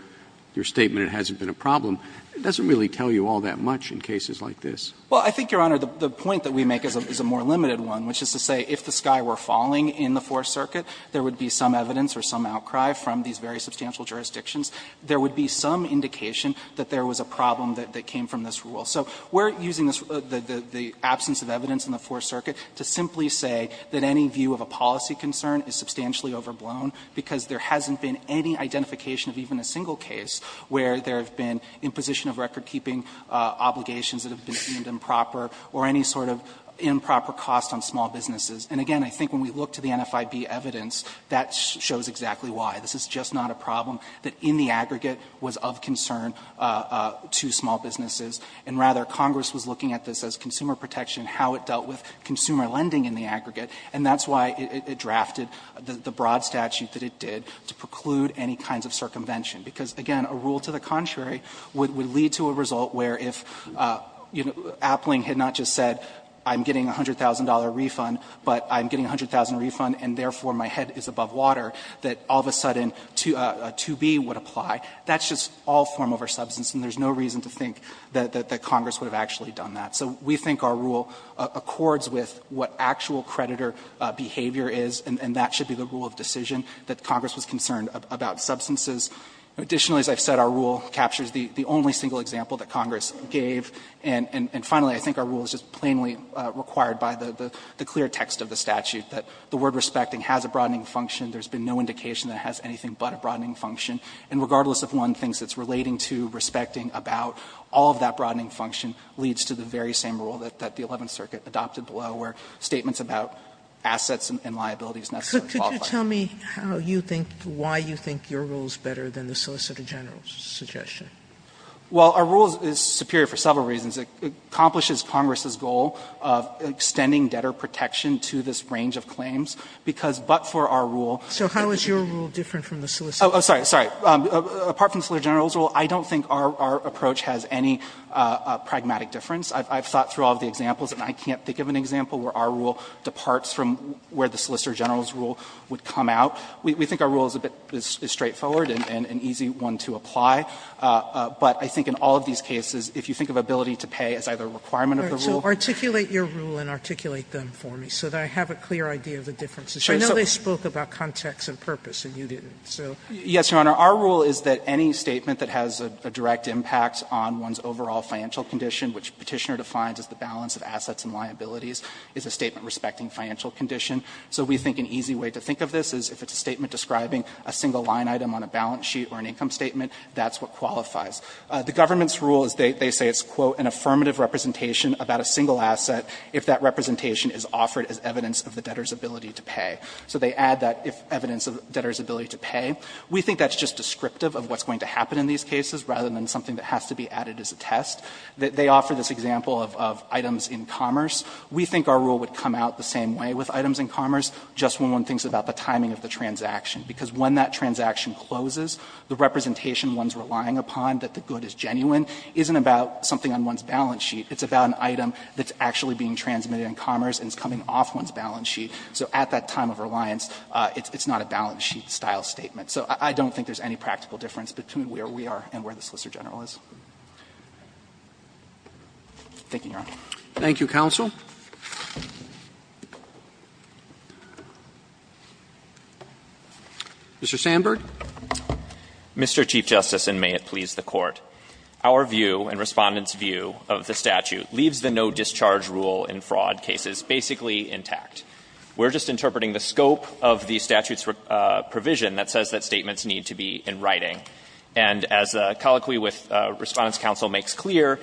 your statement it hasn't been a problem, doesn't really tell you all that much in cases like this. Well, I think, Your Honor, the point that we make is a more limited one, which is to say that in the Fourth Circuit, there would be some evidence or some outcry from these very substantial jurisdictions, there would be some indication that there was a problem that came from this rule. So we're using the absence of evidence in the Fourth Circuit to simply say that any view of a policy concern is substantially overblown because there hasn't been any identification of even a single case where there have been imposition of recordkeeping obligations that have been deemed improper or any sort of improper cost on small businesses. And again, I think when we look to the NFIB evidence, that shows exactly why. This is just not a problem that in the aggregate was of concern to small businesses. And rather, Congress was looking at this as consumer protection, how it dealt with consumer lending in the aggregate, and that's why it drafted the broad statute that it did to preclude any kinds of circumvention, because, again, a rule to the contrary would lead to a result where if, you know, Appling had not just said I'm getting a $100,000 refund, but I'm getting a $100,000 refund and, therefore, my head is above water, that all of a sudden 2B would apply. That's just all form over substance, and there's no reason to think that Congress would have actually done that. So we think our rule accords with what actual creditor behavior is, and that should be the rule of decision that Congress was concerned about substances. Additionally, as I've said, our rule captures the only single example that Congress gave, and finally, I think our rule is just plainly required by the clear text of the statute, that the word respecting has a broadening function. There's been no indication that it has anything but a broadening function. And regardless if one thinks it's relating to respecting about all of that broadening function leads to the very same rule that the Eleventh Circuit adopted below, where statements about assets and liabilities necessarily qualify. Sotomayor, could you tell me how you think, why you think your rule is better than the Solicitor General's suggestion? Well, our rule is superior for several reasons. It accomplishes Congress's goal of extending debtor protection to this range of claims, because but for our rule. So how is your rule different from the Solicitor General's? Oh, sorry, sorry. Apart from the Solicitor General's rule, I don't think our approach has any pragmatic difference. I've thought through all of the examples, and I can't think of an example where our rule departs from where the Solicitor General's rule would come out. We think our rule is a bit straightforward and an easy one to apply. But I think in all of these cases, if you think of ability to pay as either a requirement of the rule. So articulate your rule and articulate them for me, so that I have a clear idea of the differences. I know they spoke about context and purpose, and you didn't, so. Yes, Your Honor. Our rule is that any statement that has a direct impact on one's overall financial condition, which Petitioner defines as the balance of assets and liabilities, is a statement respecting financial condition. So we think an easy way to think of this is if it's a statement describing a single line item on a balance sheet or an income statement, that's what qualifies. The government's rule is they say it's, quote, an affirmative representation about a single asset if that representation is offered as evidence of the debtor's ability to pay. So they add that evidence of debtor's ability to pay. We think that's just descriptive of what's going to happen in these cases, rather than something that has to be added as a test. They offer this example of items in commerce. We think our rule would come out the same way with items in commerce, just when one that transaction closes, the representation one's relying upon, that the good is genuine, isn't about something on one's balance sheet. It's about an item that's actually being transmitted in commerce and is coming off one's balance sheet. So at that time of reliance, it's not a balance sheet-style statement. So I don't think there's any practical difference between where we are and where the Solicitor General is. Thank you, Your Honor. Thank you, counsel. Mr. Sandberg. Mr. Chief Justice, and may it please the Court, our view and Respondent's view of the statute leaves the no-discharge rule in fraud cases basically intact. We're just interpreting the scope of the statute's provision that says that statements need to be in writing. And as the colloquy with Respondent's counsel makes clear,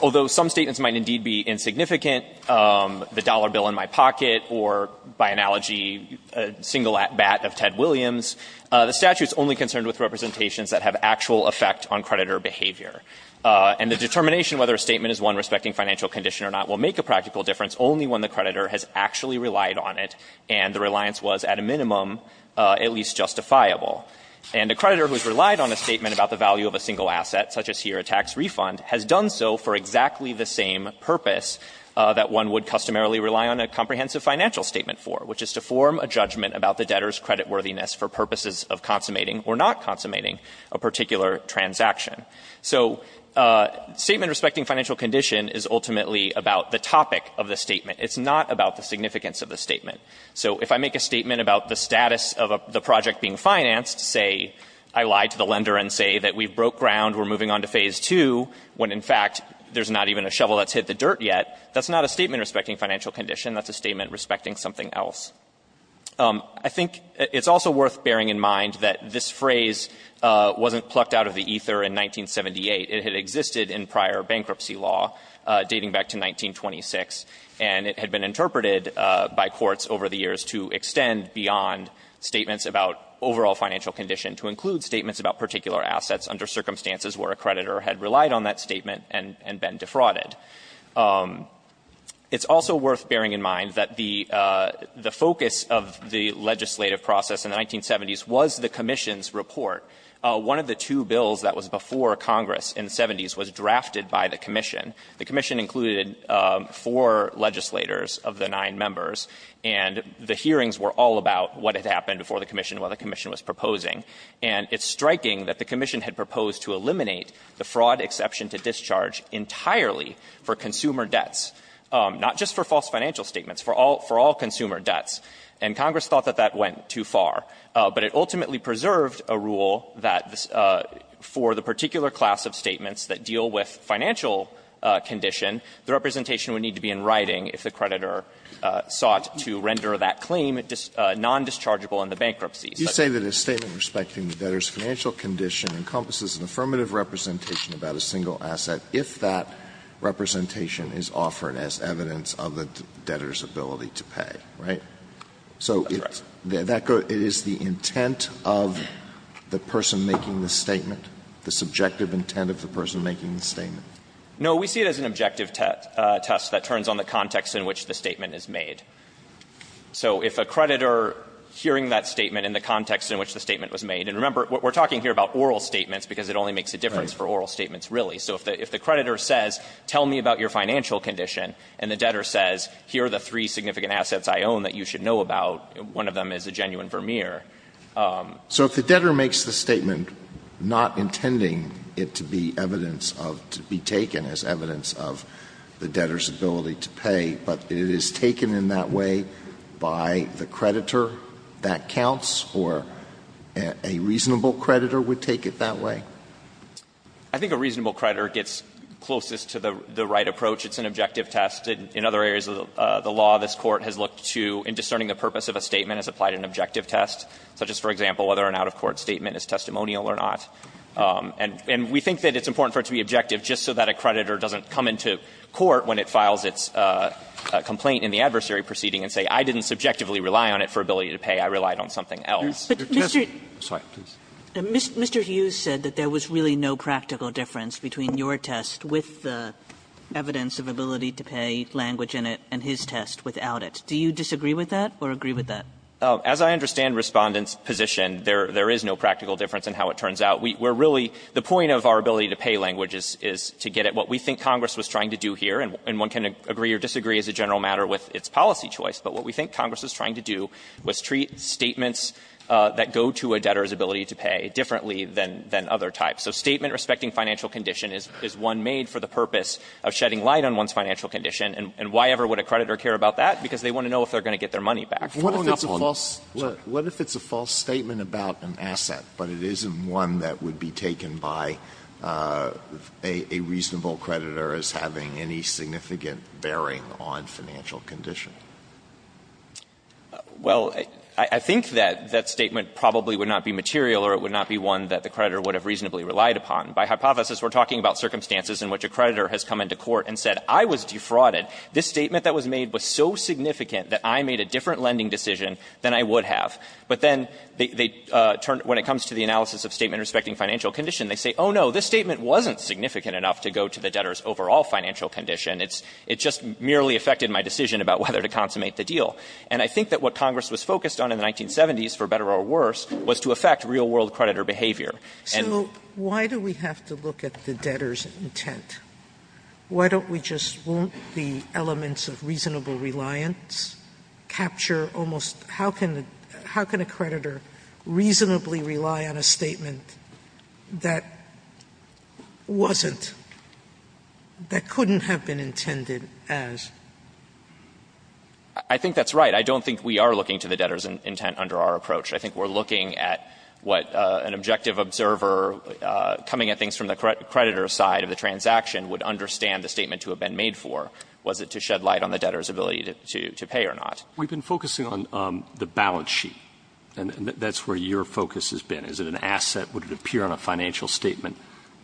although some statements might indeed be insignificant, the dollar bill in my pocket, or by analogy, a single bat of Ted Williams, the statute's only concerned with representations that have actual effect on creditor behavior. And the determination whether a statement is one respecting financial condition or not will make a practical difference only when the creditor has actually relied on it and the reliance was, at a minimum, at least justifiable. And a creditor who's relied on a statement about the value of a single asset, such as here a tax refund, has done so for exactly the same purpose that one would customarily rely on a comprehensive financial statement for, which is to form a judgment about the debtor's creditworthiness for purposes of consummating or not consummating a particular transaction. So a statement respecting financial condition is ultimately about the topic of the statement. It's not about the significance of the statement. So if I make a statement about the status of the project being financed, say I lied to the lender and say that we've broke ground, we're moving on to phase 2, when in fact there's not even a shovel that's hit the dirt yet, that's not a statement respecting financial condition, that's a statement respecting something else. I think it's also worth bearing in mind that this phrase wasn't plucked out of the ether in 1978. It had existed in prior bankruptcy law, dating back to 1926, and it had been interpreted by courts over the years to extend beyond statements about overall financial condition to include statements about particular assets under circumstances where a creditor had relied on that statement and been defrauded. It's also worth bearing in mind that the focus of the legislative process in the 1970s was the commission's report. One of the two bills that was before Congress in the 70s was drafted by the commission. The commission included four legislators of the nine members, and the hearings were all about what had happened before the commission, what the commission was proposing, and it's striking that the commission had proposed to eliminate the fraud exception to discharge entirely for consumer debts, not just for false financial statements, for all consumer debts, and Congress thought that that went too far, but it ultimately preserved a rule that for the particular class of statements that deal with financial condition, the representation would need to be in writing if the creditor sought to render that claim non-dischargeable in the bankruptcy. Alito, you say that a statement respecting the debtor's financial condition encompasses an affirmative representation about a single asset if that representation is offered as evidence of the debtor's ability to pay, right? So it's the intent of the person making the statement, the subjective intent of the person making the statement? No, we see it as an objective test that turns on the context in which the statement is made. So if a creditor hearing that statement in the context in which the statement was made, and remember, we're talking here about oral statements, because it only makes a difference for oral statements, really. So if the creditor says, tell me about your financial condition, and the debtor says, here are the three significant assets I own that you should know about, one of them is a genuine Vermeer. So if the debtor makes the statement not intending it to be evidence of, to be taken as evidence of the debtor's ability to pay, but it is taken in that way by the creditor, that counts, or a reasonable creditor would take it that way? I think a reasonable creditor gets closest to the right approach. It's an objective test. In other areas of the law, this Court has looked to, in discerning the purpose of a statement, has applied an objective test. Such as, for example, whether an out-of-court statement is testimonial or not. And we think that it's important for it to be objective just so that a creditor doesn't come into court when it files its complaint in the adversary proceeding and say, I didn't subjectively rely on it for ability to pay, I relied on something else. Kagan. Mr. Hughes said that there was really no practical difference between your test with the evidence of ability to pay, language in it, and his test without it. Do you disagree with that or agree with that? As I understand Respondent's position, there is no practical difference in how it turns out. We're really the point of our ability to pay language is to get at what we think Congress was trying to do here. And one can agree or disagree as a general matter with its policy choice. But what we think Congress was trying to do was treat statements that go to a debtor's ability to pay differently than other types. So a statement respecting financial condition is one made for the purpose of shedding light on one's financial condition. And why ever would a creditor care about that? Because they want to know if they're going to get their money back. What if it's a false statement about an asset, but it isn't one that would be taken by a reasonable creditor as having any significant bearing on financial condition? Well, I think that that statement probably would not be material or it would not be one that the creditor would have reasonably relied upon. By hypothesis, we're talking about circumstances in which a creditor has come into court and said, I was defrauded. This statement that was made was so significant that I made a different lending decision than I would have. But then they turn to the analysis of statement respecting financial condition. They say, oh, no, this statement wasn't significant enough to go to the debtor's overall financial condition. It just merely affected my decision about whether to consummate the deal. And I think that what Congress was focused on in the 1970s, for better or worse, was to affect real world creditor behavior. And the debtor's intent. Why don't we just want the elements of reasonable reliance, capture almost how can a creditor reasonably rely on a statement that wasn't, that couldn't have been intended as? I think that's right. I don't think we are looking to the debtor's intent under our approach. I think we're looking at what an objective observer coming at things from the creditor's side of the transaction would understand the statement to have been made for. Was it to shed light on the debtor's ability to pay or not? Roberts. We've been focusing on the balance sheet, and that's where your focus has been. Is it an asset? Would it appear on a financial statement?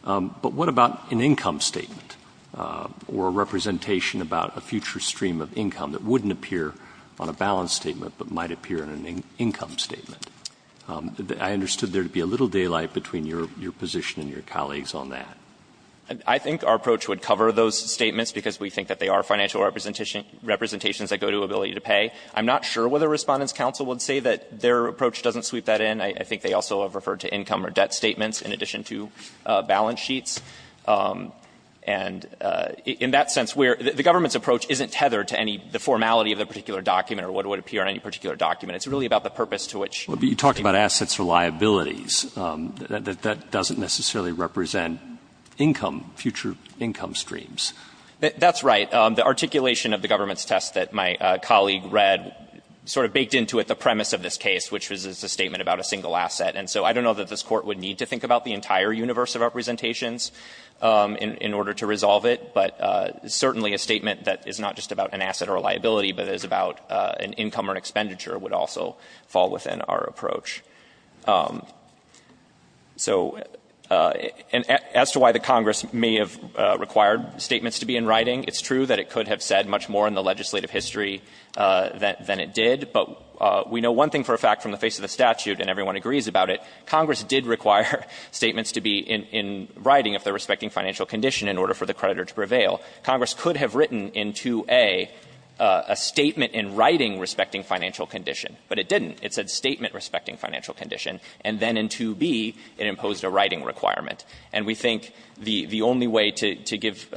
But what about an income statement or a representation about a future stream of income that wouldn't appear on a balance statement, but might appear on an income statement? I understood there to be a little daylight between your position and your colleagues on that. I think our approach would cover those statements, because we think that they are financial representations that go to ability to pay. I'm not sure whether Respondents' Counsel would say that their approach doesn't sweep that in. I think they also have referred to income or debt statements in addition to balance sheets. And in that sense, where the government's approach isn't tethered to any, the formality of the particular document or what would appear on any particular document. It's really about the purpose to which it's being used. Assets or liabilities, that doesn't necessarily represent income, future income streams. That's right. The articulation of the government's test that my colleague read sort of baked into it the premise of this case, which was a statement about a single asset. And so I don't know that this Court would need to think about the entire universe of representations in order to resolve it. But certainly a statement that is not just about an asset or a liability, but is about an income or an expenditure would also fall within our approach. So as to why the Congress may have required statements to be in writing, it's true that it could have said much more in the legislative history than it did. But we know one thing for a fact from the face of the statute, and everyone agrees about it, Congress did require statements to be in writing if they're respecting financial condition in order for the creditor to prevail. Congress could have written in 2A a statement in writing respecting financial condition, but it didn't. It said statement respecting financial condition, and then in 2B it imposed a writing requirement. And we think the only way to give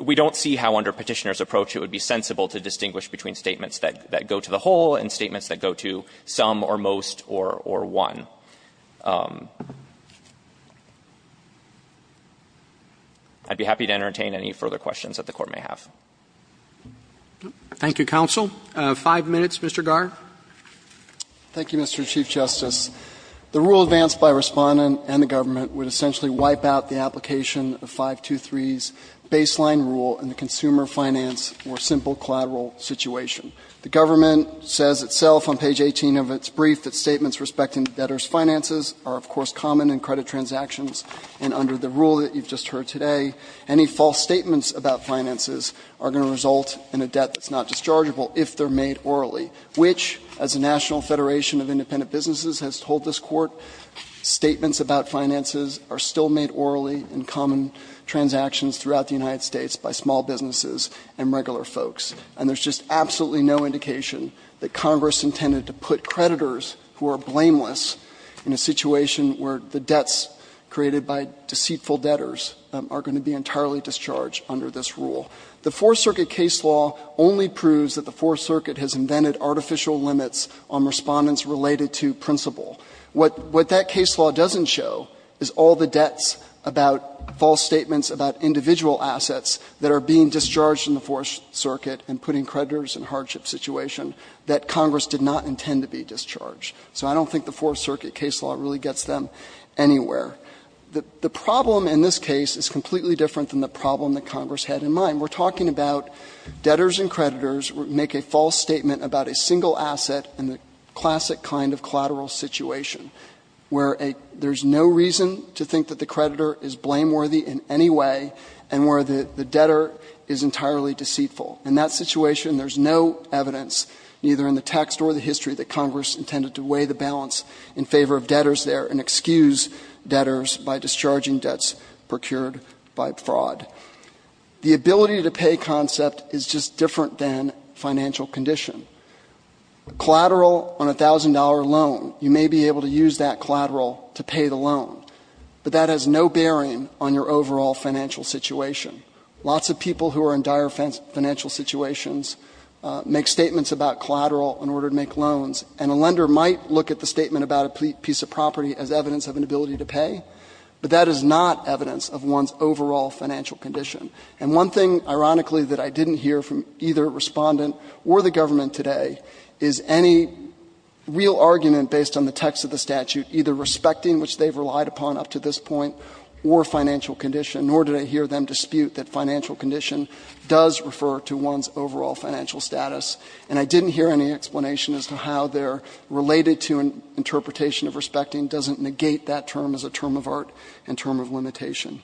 we don't see how under Petitioner's approach it would be sensible to distinguish between statements that go to the whole and statements that go to some or most or one. I'd be happy to entertain any further questions that the Court may have. Roberts. Thank you, counsel. Five minutes, Mr. Garre. Thank you, Mr. Chief Justice. The rule advanced by Respondent and the government would essentially wipe out the application of 523's baseline rule in the consumer finance or simple collateral situation. The government says itself on page 18 of its brief that statements respecting debtor's finances are, of course, common in credit transactions, and under the rule that you've just heard today, any false statements about finances are going to result in a debt that's not dischargeable if they're made orally, which, as the National Federation of Independent Businesses has told this Court, statements about finances are still made orally in common transactions throughout the United States by small businesses and regular folks. And there's just absolutely no indication that Congress intended to put creditors who are blameless in a situation where the debts created by deceitful debtors are going to be entirely discharged under this rule. The Fourth Circuit case law only proves that the Fourth Circuit has invented artificial limits on Respondents related to principle. What that case law doesn't show is all the debts about false statements about individual assets that are being discharged in the Fourth Circuit and putting creditors in a hardship situation that Congress did not intend to be discharged. So I don't think the Fourth Circuit case law really gets them anywhere. And that's what Congress had in mind. We're talking about debtors and creditors who make a false statement about a single asset in the classic kind of collateral situation where there's no reason to think that the creditor is blameworthy in any way and where the debtor is entirely deceitful. In that situation, there's no evidence, neither in the text or the history, that Congress intended to weigh the balance in favor of debtors there and excuse debtors by discharging debts procured by fraud. The ability to pay concept is just different than financial condition. Collateral on a $1,000 loan, you may be able to use that collateral to pay the loan, but that has no bearing on your overall financial situation. Lots of people who are in dire financial situations make statements about collateral in order to make loans, and a lender might look at the statement about a piece of property as evidence of an ability to pay, but that is not evidence of one's overall financial condition. And one thing, ironically, that I didn't hear from either Respondent or the government today is any real argument based on the text of the statute, either respecting, which they've relied upon up to this point, or financial condition, nor did I hear them dispute that financial condition does refer to one's overall financial status. And I didn't hear any explanation as to how their related-to interpretation of respecting doesn't negate that term as a term of art and term of limitation.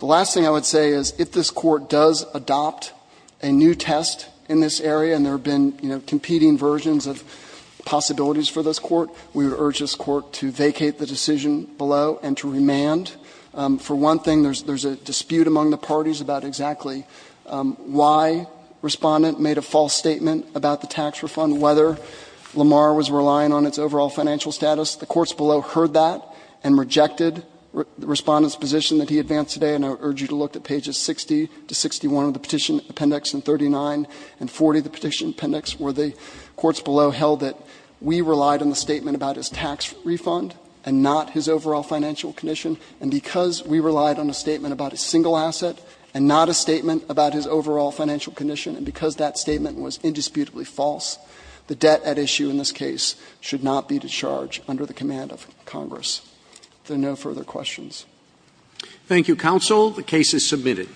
The last thing I would say is if this Court does adopt a new test in this area, and there have been, you know, competing versions of possibilities for this Court, we would urge this Court to vacate the decision below and to remand. For one thing, there's a dispute among the parties about exactly why Respondent made a false statement about the tax refund, whether Lamar was relying on its overall financial status. The courts below heard that and rejected Respondent's position that he advanced today, and I urge you to look at pages 60 to 61 of the Petition Appendix and 39 and 40 of the Petition Appendix, where the courts below held that we relied on the statement about his tax refund and not his overall financial condition, and because we relied on a statement about a single asset and not a statement about his overall financial condition, and because that statement was indisputably false, the debt at issue in this case should not be discharged under the command of Congress. If there are no further questions. Roberts. Thank you, counsel. The case is submitted.